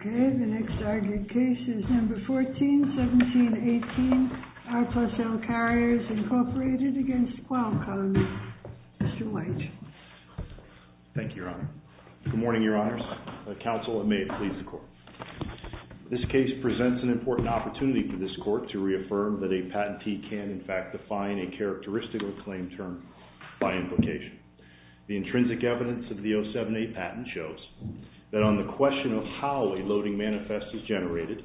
Okay, the next argued case is number 14-17-18, R. Plus L. Carriers, Incorporated, against Qualcomm. Mr. White. Thank you, Your Honor. Good morning, Your Honors. Counsel, and may it please the Court. This case presents an important opportunity for this Court to reaffirm that a patentee can, in fact, define a characteristic or claim term by invocation. The intrinsic evidence of the 07-8 patent shows that on the question of how a loading manifest is generated,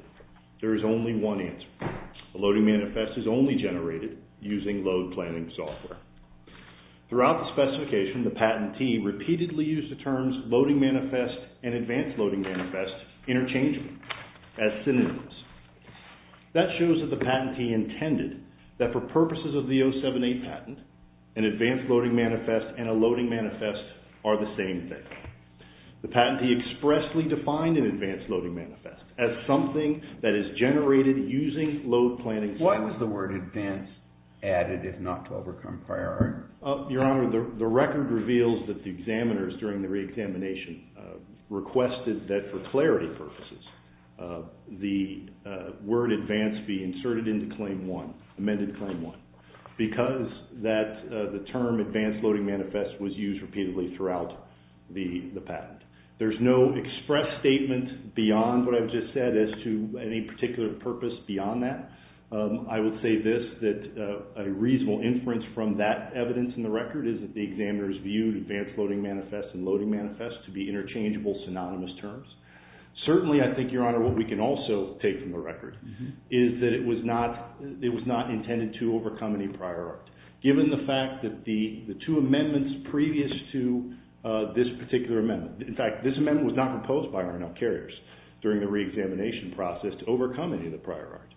there is only one answer. A loading manifest is only generated using load planning software. Throughout the specification, the patentee repeatedly used the terms loading manifest and advanced loading manifest interchangeably as synonyms. That shows that the patentee intended that for purposes of the 07-8 patent, an advanced loading manifest and a loading manifest are the same thing. The patentee expressly defined an advanced loading manifest as something that is generated using load planning software. Why was the word advanced added, if not to overcome priority? Your Honor, the record reveals that the examiners during the reexamination requested that for clarity purposes, the word advanced be inserted into claim one, amended claim one, because that the term advanced loading manifest was used repeatedly throughout the patent. There's no express statement beyond what I've just said as to any particular purpose beyond that. I would say this, that a reasonable inference from that evidence in the record is that the examiners viewed advanced loading manifest and loading manifest to be interchangeable synonymous terms. Certainly, I think, Your Honor, what we can also take from the record is that it was not intended to overcome any prior art, given the fact that the two amendments previous to this particular amendment, in fact, this amendment was not proposed by R&L carriers during the reexamination process to overcome any of the prior art.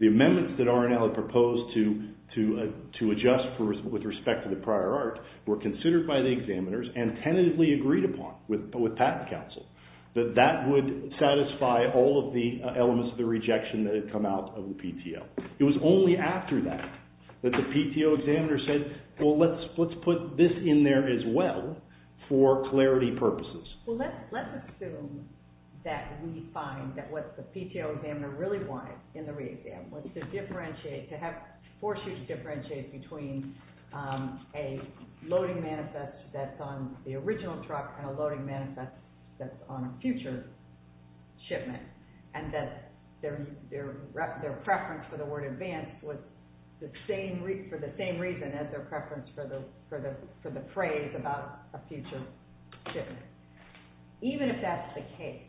The amendments that R&L had proposed to adjust with respect to the prior art were considered by the examiners and tentatively agreed upon with Patent Council, that that would satisfy all of the elements of the rejection that had come out of the PTL. It was only after that that the PTO examiner said, well, let's put this in there as well for clarity purposes. Well, let's assume that we find that what the PTO examiner really wanted in the reexam was to differentiate, to have, force you to differentiate between a loading manifest that's on the original truck and a loading manifest that's on a future shipment, and that their preference for the word advanced was for the same reason as their preference for the phrase about a future shipment. Even if that's the case,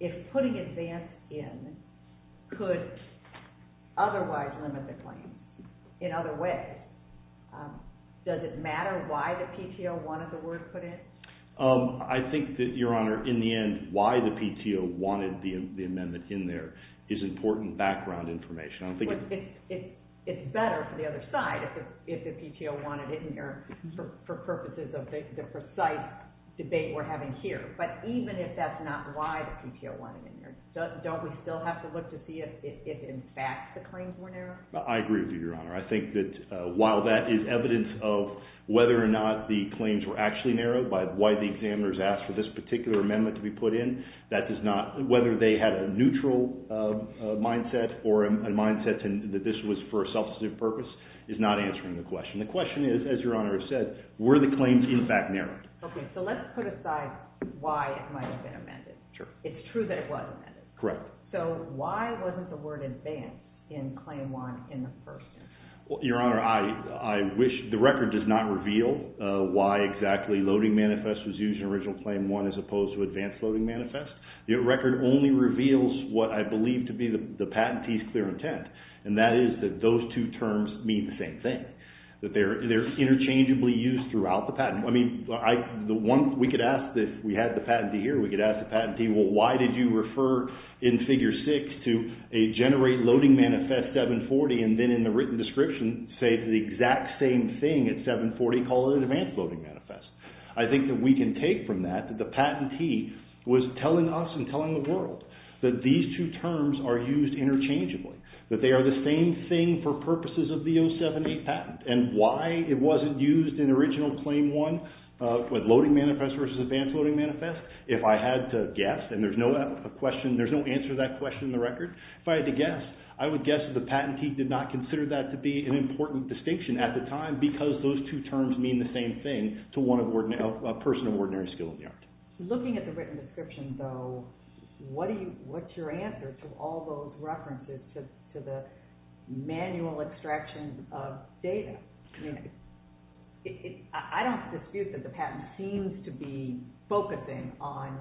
if putting advanced in could otherwise limit the claim in other ways, does it matter why the PTO wanted the word put in? I think that, Your Honor, in the end, why the PTO wanted the amendment in there is important background information. It's better for the other side if the PTO wanted it in there for purposes of the precise debate we're having here. But even if that's not why the PTO wanted it in there, don't we still have to look to see if in fact the claims were narrowed? I agree with you, Your Honor. I think that while that is evidence of whether or not the claims were actually narrowed by why the examiners asked for this particular amendment to be put in, that does not, whether they had a neutral mindset or a mindset that this was for a substantive purpose, is not answering the question. The question is, as Your Honor has said, were the claims in fact narrowed? Okay. So let's put aside why it might have been amended. Sure. It's true that it was amended. Correct. So why wasn't the word advanced in Claim 1 in the first instance? Your Honor, I wish, the record does not reveal why exactly Loading Manifest was used in Original Claim 1 as opposed to Advanced Loading Manifest. The record only reveals what I believe to be the patentee's clear intent. And that is that those two terms mean the same thing, that they're interchangeably used throughout the patent. I mean, the one, we could ask, if we had the patentee here, we could ask the patentee, well, why did you refer in Figure 6 to a Generate Loading Manifest 740 and then in the written description say the exact same thing at 740 called an Advanced Loading Manifest? I think that we can take from that that the patentee was telling us and telling the world that these two terms are used interchangeably, that they are the same thing for purposes of the 07-8 patent. And why it wasn't used in Original Claim 1 with Loading Manifest versus Advanced Loading Manifest, if I had to guess, and there's no answer to that question in the record, if I had to guess, I would guess that the patentee did not consider that to be an important distinction at the time because those two terms mean the same thing to a person of ordinary skill in the art. Looking at the written description, though, what's your answer to all those references to the manual extraction of data? I don't dispute that the patent seems to be focusing on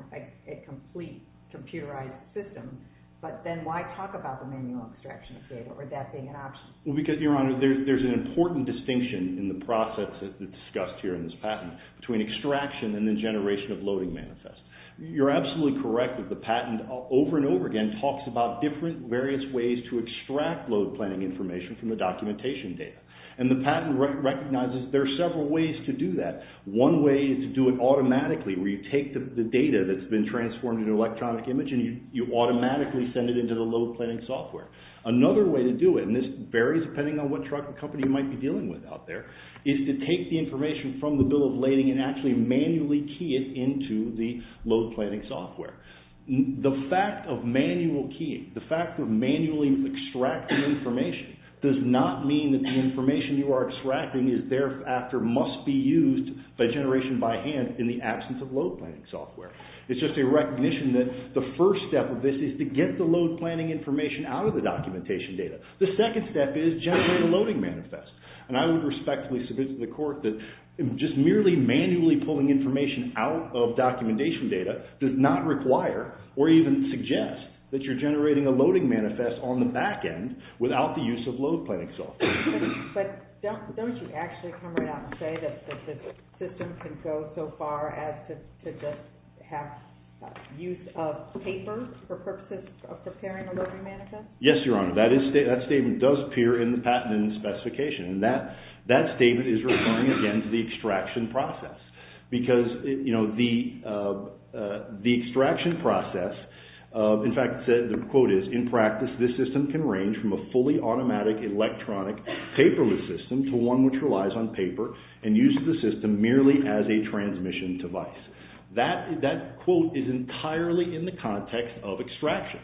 a complete computerized system, but then why talk about the manual extraction of data or that being an option? Because, Your Honor, there's an important distinction in the process that's discussed here in this patent between extraction and the generation of Loading Manifest. You're absolutely correct that the patent over and over again talks about different various ways to extract load planning information from the documentation data. And the patent recognizes there are several ways to do that. One way is to do it automatically where you take the data that's been transformed into the load planning software. Another way to do it, and this varies depending on what truck or company you might be dealing with out there, is to take the information from the bill of lading and actually manually key it into the load planning software. The fact of manual keying, the fact of manually extracting information, does not mean that the information you are extracting must be used by generation by hand in the absence of load planning software. It's just a recognition that the first step of this is to get the load planning information out of the documentation data. The second step is generate a Loading Manifest. And I would respectfully submit to the court that just merely manually pulling information out of documentation data does not require or even suggest that you're generating a Loading Manifest on the back end without the use of load planning software. But don't you actually come right out and say that the system can go so far as to just have use of paper for purposes of preparing a Loading Manifest? Yes, Your Honor. That statement does appear in the patent and specification. And that statement is referring again to the extraction process. Because the extraction process, in fact the quote is, in practice this system can range from a fully automatic electronic paperless system to one which relies on paper and uses the system merely as a transmission device. That quote is entirely in the context of extraction.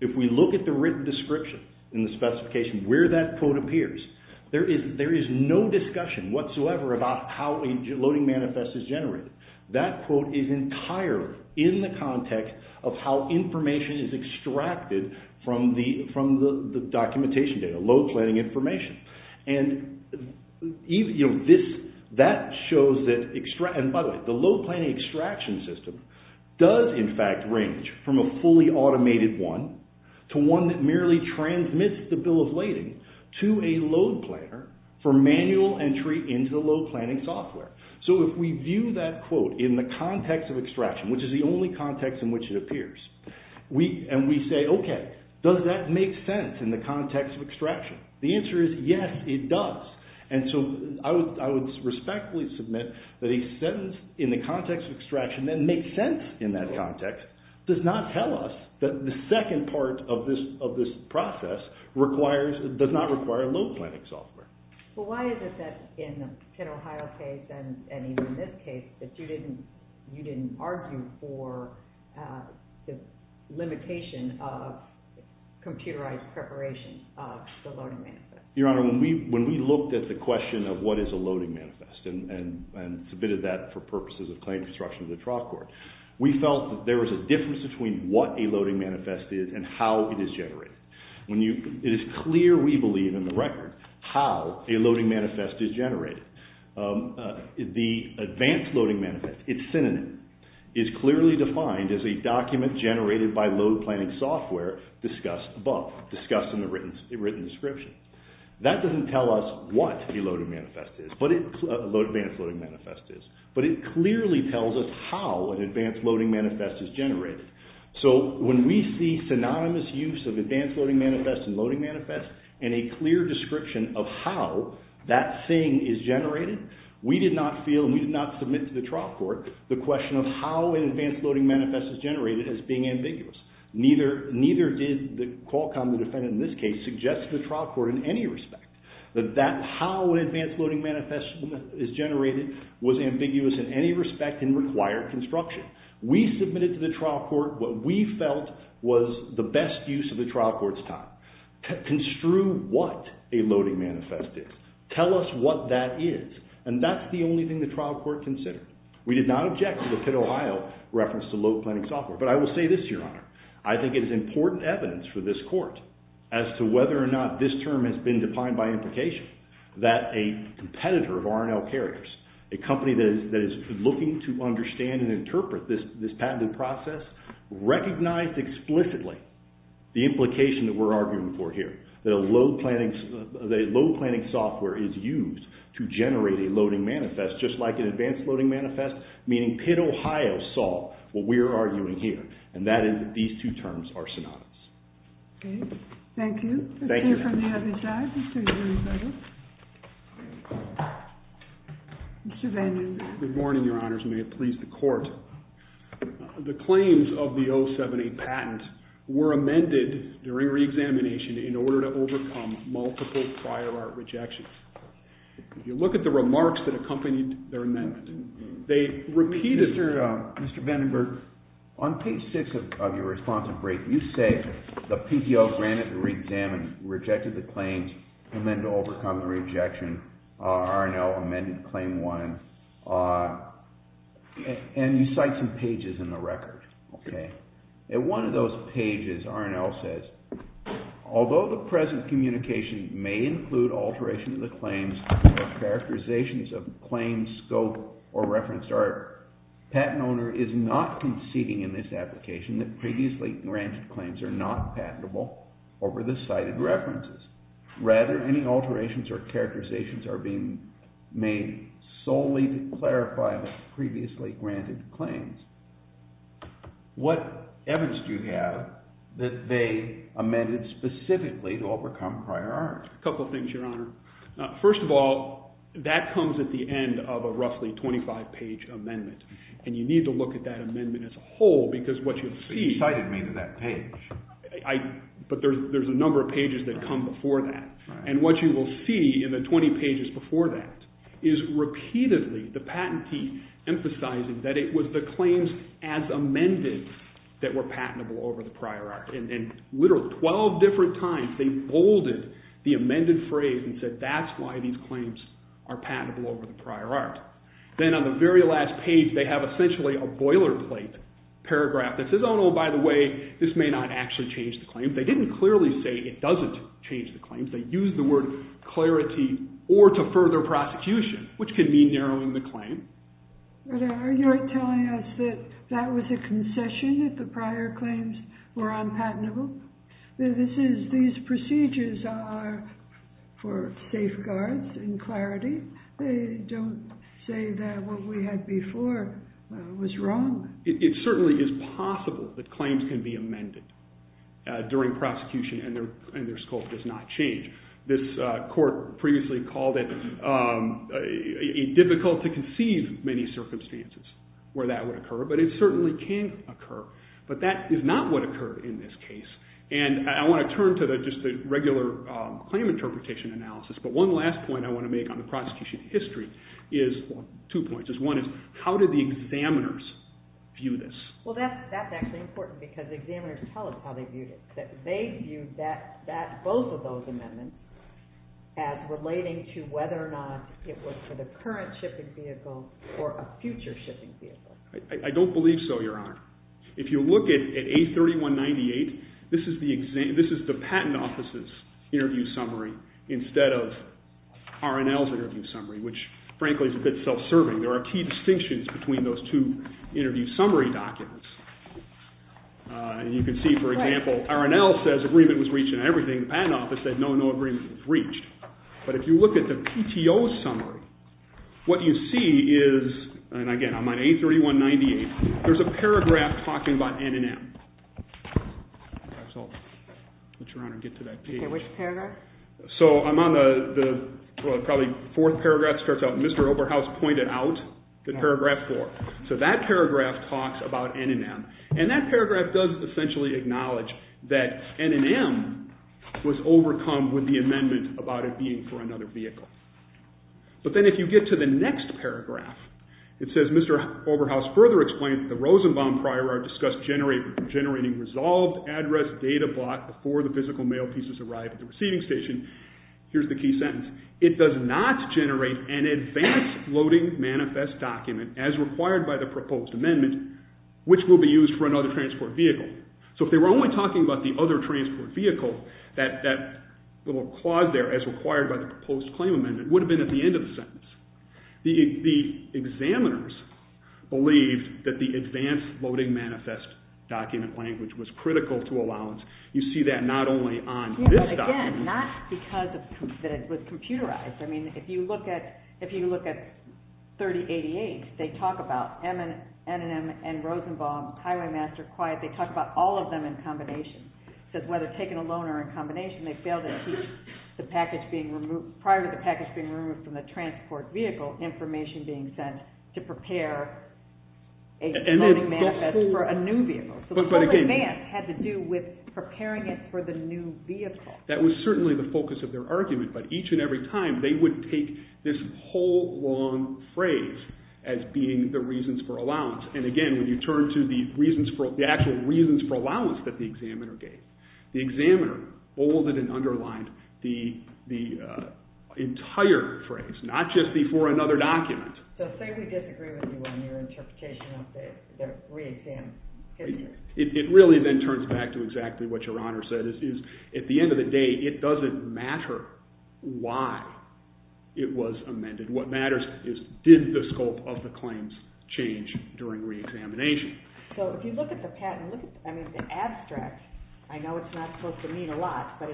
If we look at the written description in the specification where that quote appears, there is no discussion whatsoever about how a Loading Manifest is generated. That quote is entirely in the context of how information is extracted from the documentation data, load planning information. And by the way, the load planning extraction system does in fact range from a fully automated one to one that merely transmits the bill of lading to a load planner for manual entry into the load planning software. So if we view that quote in the context of extraction, which is the only context in which it appears, and we say, okay, does that make sense in the context of extraction? The answer is yes, it does. And so I would respectfully submit that a sentence in the context of extraction that makes sense in that context does not tell us that the second part of this process does not require load planning software. But why is it that in the Pitt, Ohio case and even in this case that you didn't argue for the limitation of computerized preparation of the Loading Manifest? Your Honor, when we looked at the question of what is a Loading Manifest and submitted that for purposes of claim construction to the trial court, we felt that there was a difference between what a Loading Manifest is and how it is generated. It is clear we believe in the record how a Loading Manifest is generated. The Advanced Loading Manifest, its synonym, is clearly defined as a document generated by load planning software discussed above, discussed in the written description. That doesn't tell us what a Loading Manifest is, what an Advanced Loading Manifest is, but it clearly tells us how an Advanced Loading Manifest is generated. So when we see synonymous use of Advanced Loading Manifest and Loading Manifest and a clear description of how that thing is generated, we did not feel, we did not submit to the trial court the question of how an Advanced Loading Manifest is generated as being ambiguous. Neither did Qualcomm, the defendant in this case, suggest to the trial court in any respect that how an Advanced Loading Manifest is generated was ambiguous in any respect in required construction. We submitted to the trial court what we felt was the best use of the trial court's time. Construe what a Loading Manifest is. Tell us what that is. And that's the only thing the trial court considered. We did not object to the Pitt, Ohio reference to load planning software. But I will say this, Your Honor. I think it is important evidence for this court as to whether or not this term has been defined by implication that a competitor of R&L Carriers, a company that is looking to understand and interpret this patented process, recognized explicitly the implication that we're arguing for here. That a load planning software is used to generate a Loading Manifest just like an Advanced Loading Manifest. Meaning Pitt, Ohio saw what we're arguing here. And that is that these two terms are synonymous. Okay. Thank you. Thank you. Let's hear from the other side. Mr. Van Udenberg. Mr. Van Udenberg. Good morning, Your Honors. May it please the court. The claims of the 078 patent were amended during reexamination in order to overcome multiple prior art rejections. If you look at the remarks that accompanied their amendment, they repeated... Mr. Van Udenberg, on page 6 of your responsive brief, you say the PTO granted the reexamination, rejected the claims, and then to overcome the rejection, R&L amended claim 1. And you cite some pages in the record. In one of those pages, R&L says, although the present communication may include alteration of the claims or characterizations of claims, scope, or reference art, patent owner is not conceding in this application that previously granted claims are not patentable over the cited references. Rather, any alterations or characterizations are being made solely to clarify the previously granted claims. What evidence do you have that they amended specifically to overcome prior art? A couple things, Your Honor. First of all, that comes at the end of a roughly 25-page amendment. And you need to look at that amendment as a whole because what you'll see... But you cited me to that page. But there's a number of pages that come before that. And what you will see in the 20 pages before that is repeatedly the patentee emphasizing that it was the claims as amended that were patentable over the prior art. And literally 12 different times, they bolded the amended phrase and said, that's why these claims are patentable over the prior art. Then on the very last page, they have essentially a boilerplate paragraph that says, oh no, by the way, this may not actually change the claim. They didn't clearly say it doesn't change the claim. They used the word clarity or to further prosecution, which can mean narrowing the claim. But are you telling us that that was a concession that the prior claims were unpatentable? These procedures are for safeguards and clarity. They don't say that what we had before was wrong. It certainly is possible that claims can be amended during prosecution and their scope does not change. This court previously called it difficult to conceive many circumstances where that would occur. But it certainly can occur. But that is not what occurred in this case. And I want to turn to just the regular claim interpretation analysis. But one last point I want to make on the prosecution history is two points. One is, how did the examiners view this? Well, that's actually important because examiners tell us how they viewed it, that they viewed both of those amendments as relating to whether or not it was for the current shipping vehicle or a future shipping vehicle. I don't believe so, Your Honor. If you look at A3198, this is the patent office's interview summary instead of RNL's interview summary, which frankly is a bit self-serving. There are key distinctions between those two interview summary documents. And you can see, for example, RNL says agreement was reached and everything. The patent office said no, no agreement was reached. But if you look at the PTO summary, what you see is, and again, I'm on A3198. There's a paragraph talking about N&M. Perhaps I'll let Your Honor get to that page. OK, which paragraph? So I'm on the probably fourth paragraph. It starts out, Mr. Oberhaus pointed out the paragraph four. So that paragraph talks about N&M. And that paragraph does essentially acknowledge that N&M was overcome with the amendment about it being for another vehicle. But then if you get to the next paragraph, it says, Mr. Oberhaus further explained that the Rosenbaum prior art discussed generating resolved address data bought before the physical mail pieces arrived at the receiving station. Here's the key sentence. It does not generate an advanced loading manifest document as required by the proposed amendment, which will be used for another transport vehicle. So if they were only talking about the other transport vehicle, that little clause there as required by the proposed claim amendment would have been at the end of the sentence. The examiners believed that the advanced loading manifest document language was critical to allowance. You see that not only on this document. Again, not because it was computerized. I mean, if you look at 3088, they talk about N&M and Rosenbaum, Highwaymaster, Quiet. They talk about all of them in combination. It says whether taken alone or in combination, they failed to teach prior to the package being removed from the transport vehicle information being sent to prepare a loading manifest for a new vehicle. So the whole advance had to do with preparing it for the new vehicle. That was certainly the focus of their argument. But each and every time, they would take this whole long phrase as being the reasons for allowance. Again, when you turn to the actual reasons for allowance that the examiner gave, the examiner bolded and underlined the entire phrase, not just before another document. So say we disagree with you on your interpretation of the re-exam. It really then turns back to exactly what Your Honor said. At the end of the day, it doesn't matter why it was amended. What matters is did the scope of the claims change during re-examination. So if you look at the patent, I mean, the abstract, I know it's not supposed to mean a lot, but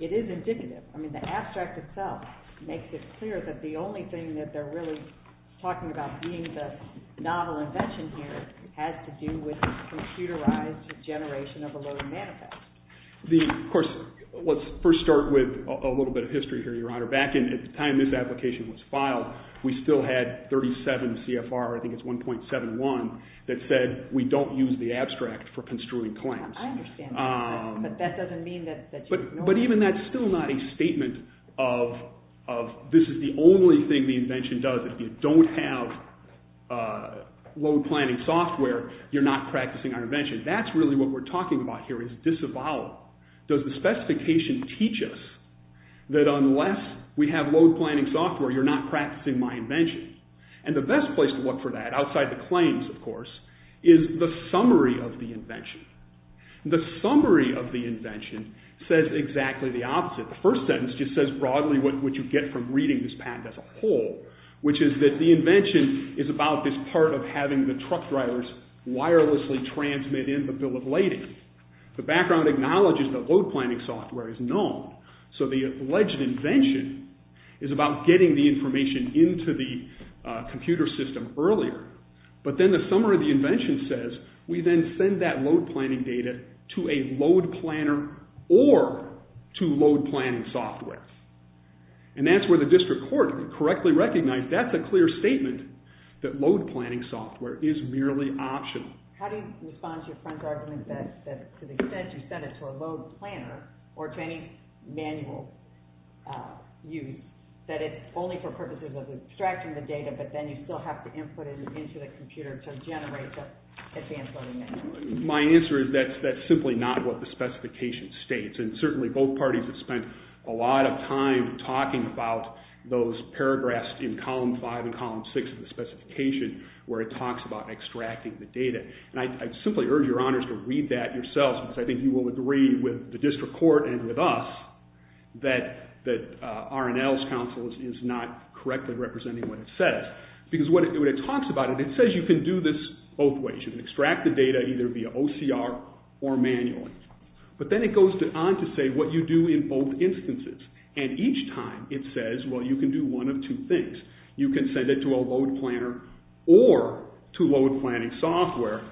it is indicative. I mean, the abstract itself makes it clear that the only thing that they're really talking about being the novel invention here has to do with computerized generation of a loading manifest. Of course, let's first start with a little bit of history here, Your Honor. Back in the time this application was filed, we still had 37 CFR, I think it's 1.71, that said we don't use the abstract for construing claims. I understand that, but that doesn't mean that you ignore it. But even that's still not a statement of this is the only thing the invention does. If you don't have load planning software, you're not practicing our invention. That's really what we're talking about here is disavowal. Does the specification teach us that unless we have load planning software, you're not practicing my invention? And the best place to look for that, outside the claims, of course, is the summary of the invention. The summary of the invention says exactly the opposite. The first sentence just says broadly what you get from reading this patent as a whole, which is that the invention is about this part of having the truck drivers wirelessly transmit in the bill of lading. The background acknowledges that load planning software is known, so the alleged invention is about getting the information into the computer system earlier. But then the summary of the invention says we then send that load planning data to a load planner or to load planning software. And that's where the district court correctly recognized that's a clear statement that load planning software is merely optional. How do you respond to your friend's argument that to the extent you send it to a load planner or to any manual use, that it's only for purposes of extracting the data, but then you still have to input it into the computer to generate the advanced loading manual? My answer is that's simply not what the specification states, and certainly both parties have spent a lot of time talking about those paragraphs in column 5 and column 6 of the specification where it talks about extracting the data. And I simply urge your honors to read that yourselves, because I think you will agree with the district court and with us that R&L's counsel is not correctly representing what it says. Because when it talks about it, it says you can do this both ways. You can extract the data either via OCR or manually. But then it goes on to say what you do in both instances. And each time it says, well, you can do one of two things. You can send it to a load planner or to load planning software.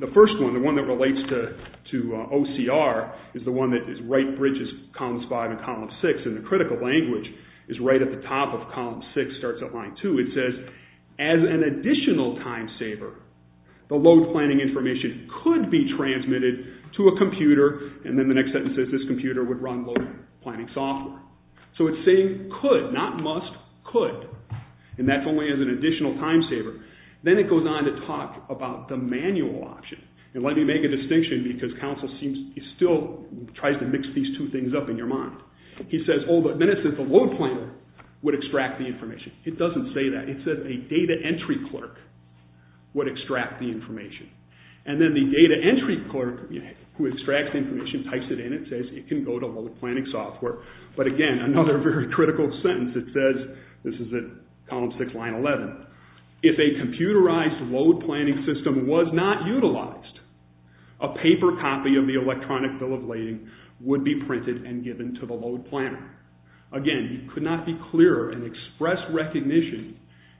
The first one, the one that relates to OCR, is the one that right bridges columns 5 and column 6, and the critical language is right at the top of column 6, starts at line 2. It says, as an additional time saver, the load planning information could be sent to a computer, and then the next sentence says this computer would run load planning software. So it's saying could, not must, could. And that's only as an additional time saver. Then it goes on to talk about the manual option. And let me make a distinction because counsel still tries to mix these two things up in your mind. He says, oh, but then it says the load planner would extract the information. It doesn't say that. It says a data entry clerk would extract the information. And then the data entry clerk who extracts the information types it in. It says it can go to load planning software. But again, another very critical sentence. It says, this is at column 6, line 11, if a computerized load planning system was not utilized, a paper copy of the electronic bill of lading would be printed and given to the load planner. Again, you could not be clearer and express recognition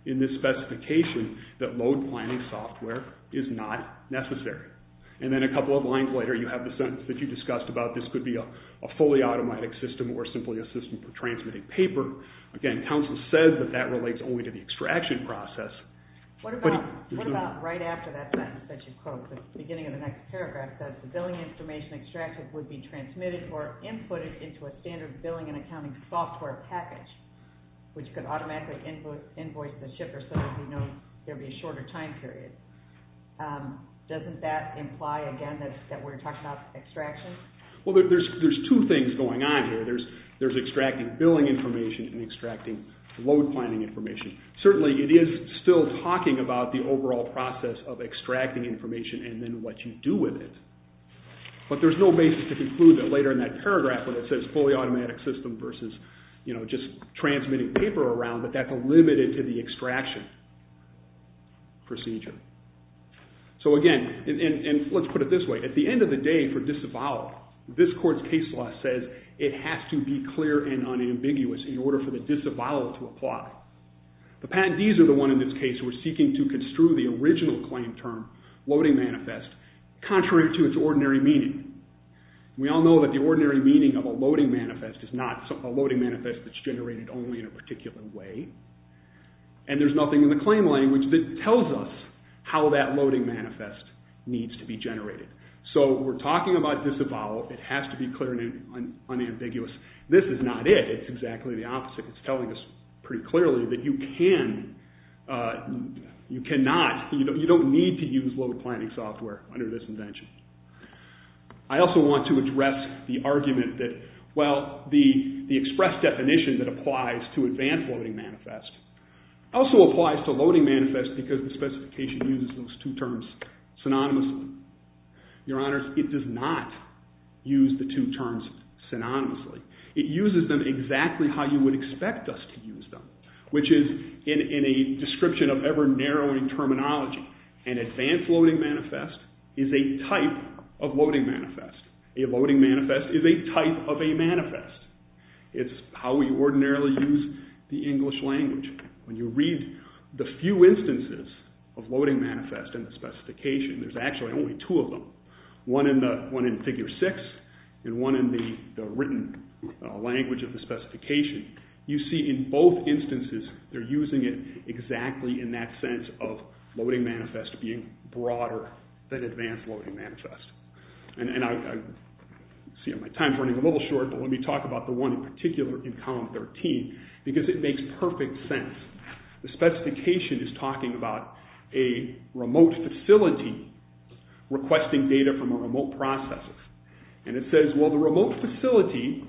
in this specification that load planning software is not necessary. And then a couple of lines later, you have the sentence that you discussed about this could be a fully automatic system or simply a system for transmitting paper. Again, counsel says that that relates only to the extraction process. What about right after that sentence that you quote at the beginning of the next paragraph that the billing information extracted would be transmitted or inputted into a standard billing and accounting software package, which could automatically invoice the shipper so that we know there would be a shorter time period. Doesn't that imply, again, that we're talking about extraction? Well, there's two things going on here. There's extracting billing information and extracting load planning information. Certainly, it is still talking about the overall process of extracting information and then what you do with it. But there's no basis to conclude that later in that paragraph when it says fully automatic system versus just transmitting paper around, that that's limited to the extraction procedure. So again, and let's put it this way, at the end of the day for disavowal, this court's case law says it has to be clear and unambiguous in order for the disavowal to apply. The patentees are the ones in this case who are seeking to construe the original claim term, loading manifest, contrary to its ordinary meaning. We all know that the ordinary meaning of a loading manifest is not a loading manifest that's generated only in a particular way, and there's nothing in the claim language that tells us how that loading manifest needs to be generated. So we're talking about disavowal. It has to be clear and unambiguous. This is not it. It's exactly the opposite. It's telling us pretty clearly that you cannot, you don't need to use load planning software under this invention. I also want to address the argument that, well, the express definition that applies to advanced loading manifest also applies to loading manifest because the specification uses those two terms synonymously. Your Honors, it does not use the two terms synonymously. It uses them exactly how you would expect us to use them, which is in a description of ever-narrowing terminology. An advanced loading manifest is a type of loading manifest. A loading manifest is a type of a manifest. It's how we ordinarily use the English language. When you read the few instances of loading manifest in the specification, there's actually only two of them, you see in both instances they're using it exactly in that sense of loading manifest being broader than advanced loading manifest. And I see my time's running a little short, but let me talk about the one in particular in Column 13 because it makes perfect sense. The specification is talking about a remote facility requesting data from a remote process, and it says, well, a remote facility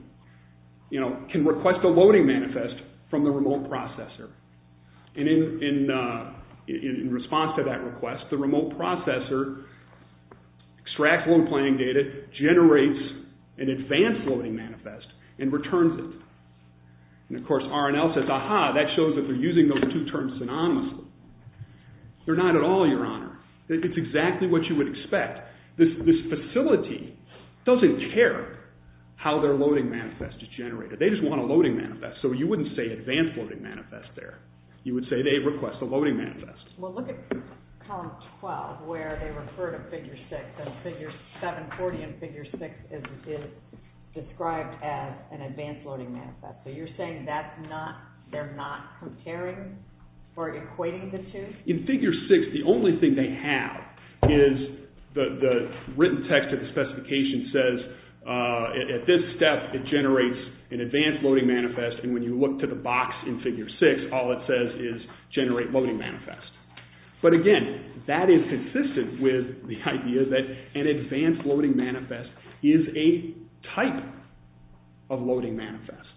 can request a loading manifest from the remote processor. And in response to that request, the remote processor extracts load planning data, generates an advanced loading manifest, and returns it. And, of course, R&L says, aha, that shows that they're using those two terms synonymously. They're not at all, Your Honor. It's exactly what you would expect. This facility doesn't care how their loading manifest is generated. They just want a loading manifest. So you wouldn't say advanced loading manifest there. You would say they request a loading manifest. Well, look at Column 12 where they refer to Figure 6, and Figure 740 and Figure 6 is described as an advanced loading manifest. So you're saying that's not, they're not comparing or equating the two? In Figure 6, the only thing they have is the written text of the specification says at this step it generates an advanced loading manifest, and when you look to the box in Figure 6, all it says is generate loading manifest. But, again, that is consistent with the idea that an advanced loading manifest is a type of loading manifest.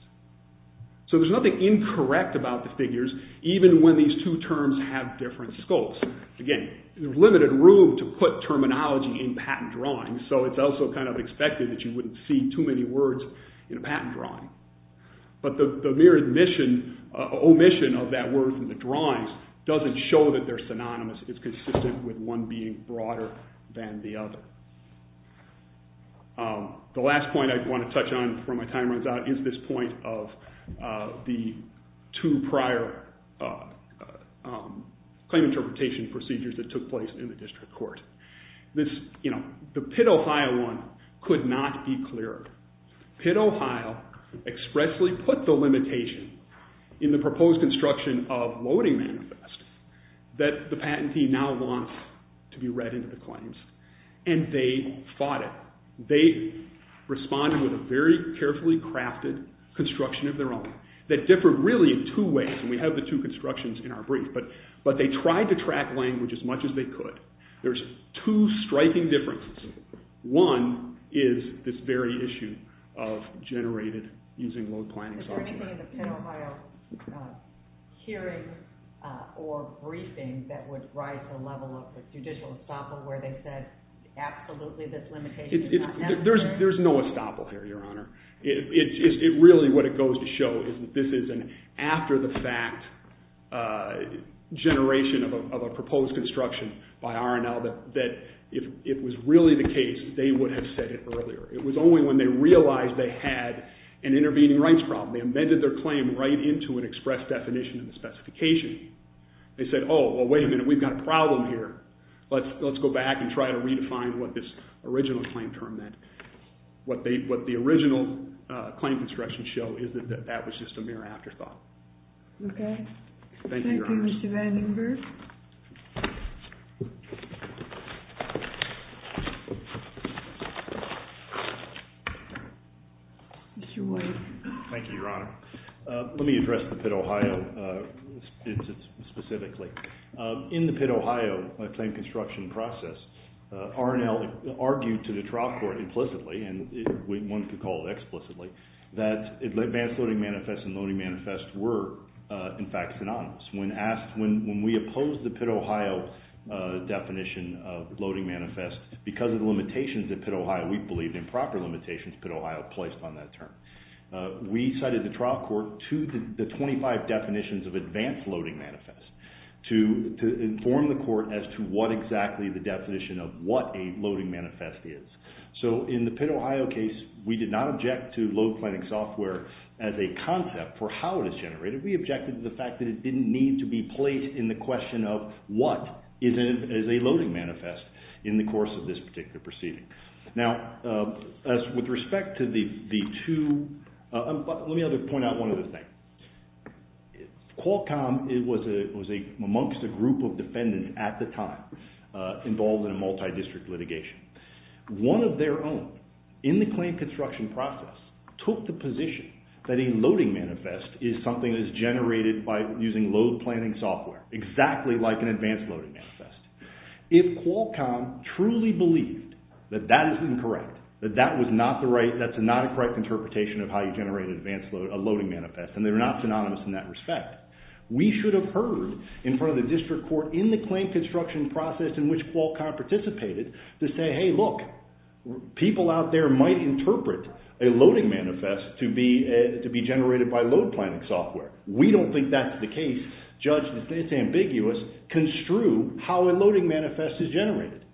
So there's nothing incorrect about the figures, even when these two terms have different scopes. Again, there's limited room to put terminology in patent drawings, so it's also kind of expected that you wouldn't see too many words in a patent drawing. But the mere omission of that word from the drawings doesn't show that they're synonymous. It's consistent with one being broader than the other. The last point I want to touch on before my time runs out is this point of the two prior claim interpretation procedures that took place in the district court. The Pitt, Ohio one could not be clearer. Pitt, Ohio expressly put the limitation in the proposed construction of loading manifest that the patentee now wants to be read into the claims, and they fought it. They responded with a very carefully crafted construction of their own that differed really in two ways, and we have the two constructions in our brief, but they tried to track language as much as they could. There's two striking differences. One is this very issue of generated using load planning software. Is there anything in the Pitt, Ohio hearing or briefing that would rise the level of the judicial estoppel where they said absolutely this limitation is not necessary? There's no estoppel here, Your Honor. Really what it goes to show is that this is an after-the-fact generation of a proposed construction by R&L that if it was really the case, they would have said it earlier. It was only when they realized they had an intervening rights problem, they amended their claim right into an express definition of the specification, they said, oh, well, wait a minute, we've got a problem here. Let's go back and try to redefine what this original claim term meant. What the original claim construction show is that that was just a mere afterthought. Thank you, Your Honor. Thank you, Mr. Vandenberg. Mr. White. Thank you, Your Honor. Let me address the Pitt, Ohio specifically. In the Pitt, Ohio claim construction process, R&L argued to the trial court implicitly, and one could call it explicitly, that advanced loading manifest and loading manifest were, in fact, synonymous. When we opposed the Pitt, Ohio definition of loading manifest, because of the limitations at Pitt, Ohio, we believed improper limitations Pitt, Ohio placed on that term. We cited the trial court to the 25 definitions of advanced loading manifest. To inform the court as to what exactly the definition of what a loading manifest is. So in the Pitt, Ohio case, we did not object to load planning software as a concept for how it is generated. We objected to the fact that it didn't need to be placed in the question of what is a loading manifest in the course of this particular proceeding. Now, with respect to the two, let me point out one other thing. Qualcomm was amongst a group of defendants at the time involved in a multi-district litigation. One of their own, in the claim construction process, took the position that a loading manifest is something that is generated by using load planning software, exactly like an advanced loading manifest. If Qualcomm truly believed that that is incorrect, that that's not a correct interpretation of how you generate a loading manifest, and they're not synonymous in that respect, we should have heard in front of the district court, in the claim construction process in which Qualcomm participated, to say, hey look, people out there might interpret a loading manifest to be generated by load planning software. We don't think that's the case. Judge, it's ambiguous, construe how a loading manifest is generated.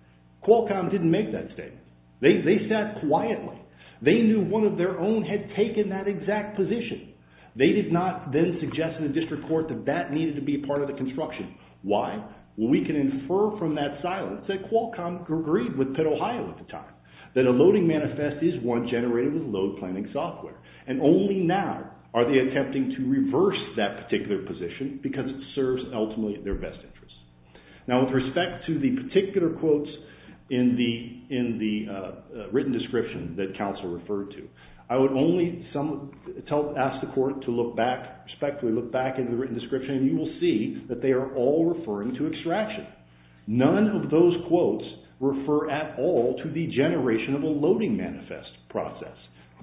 Qualcomm didn't make that statement. They sat quietly. They knew one of their own had taken that exact position. They did not then suggest to the district court that that needed to be part of the construction. Why? Well, we can infer from that silence that Qualcomm agreed with Pitt, Ohio at the time, that a loading manifest is one generated with load planning software, and only now are they attempting to reverse that particular position because it serves ultimately their best interests. Now, with respect to the particular quotes in the written description that counsel referred to, I would only ask the court to respectfully look back at the written description, and you will see that they are all referring to extraction. None of those quotes refer at all to the generation of a loading manifest process.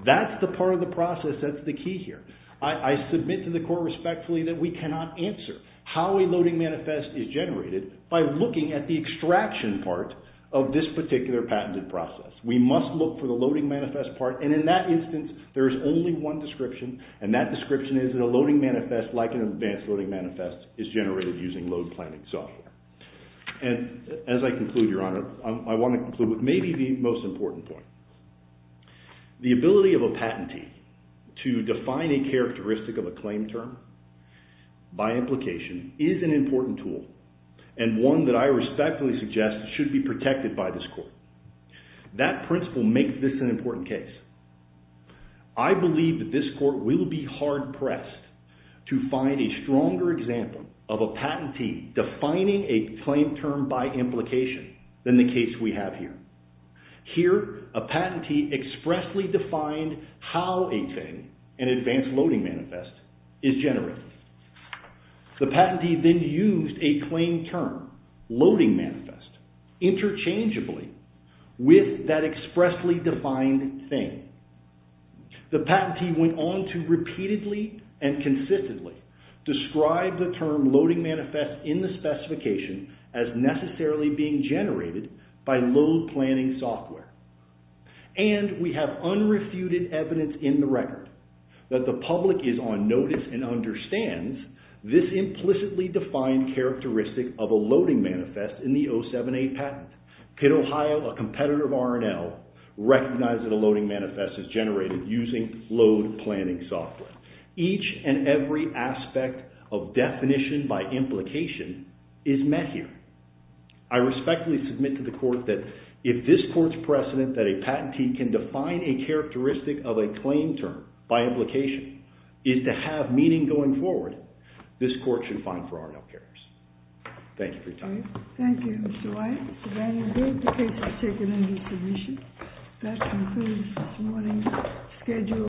That's the part of the process that's the key here. I submit to the court respectfully that we cannot answer how a loading manifest is generated by looking at the extraction part of this particular patented process. We must look for the loading manifest part, and in that instance, there is only one description, and that description is that a loading manifest, like an advanced loading manifest, is generated using load planning software. And as I conclude, Your Honor, I want to conclude with maybe the most important point. The ability of a patentee to define a characteristic of a claim term by implication is an important tool, and one that I respectfully suggest should be protected by this court. That principle makes this an important case. I believe that this court will be hard-pressed to find a stronger example of a patentee defining a claim term by implication than the case we have here. Here, a patentee expressly defined how a thing, an advanced loading manifest, is generated. The patentee then used a claim term, loading manifest, interchangeably with that expressly defined thing. The patentee went on to repeatedly and consistently describe the term loading manifest in the specification as necessarily being generated by load planning software. And we have unrefuted evidence in the record that the public is on notice and understands this implicitly defined characteristic of a loading manifest in the 078 patent. Could Ohio, a competitor of R&L, recognize that a loading manifest is generated using load planning software? Each and every aspect of definition by implication is met here. I respectfully submit to the court that if this court's precedent that a patentee can define a characteristic of a claim term by implication is to have meaning going forward, this court should find for R&L carriers. Thank you for your time. Thank you, Mr. Wyatt. Mr. Daniel Good, the case is taken into submission. That concludes this morning's schedule.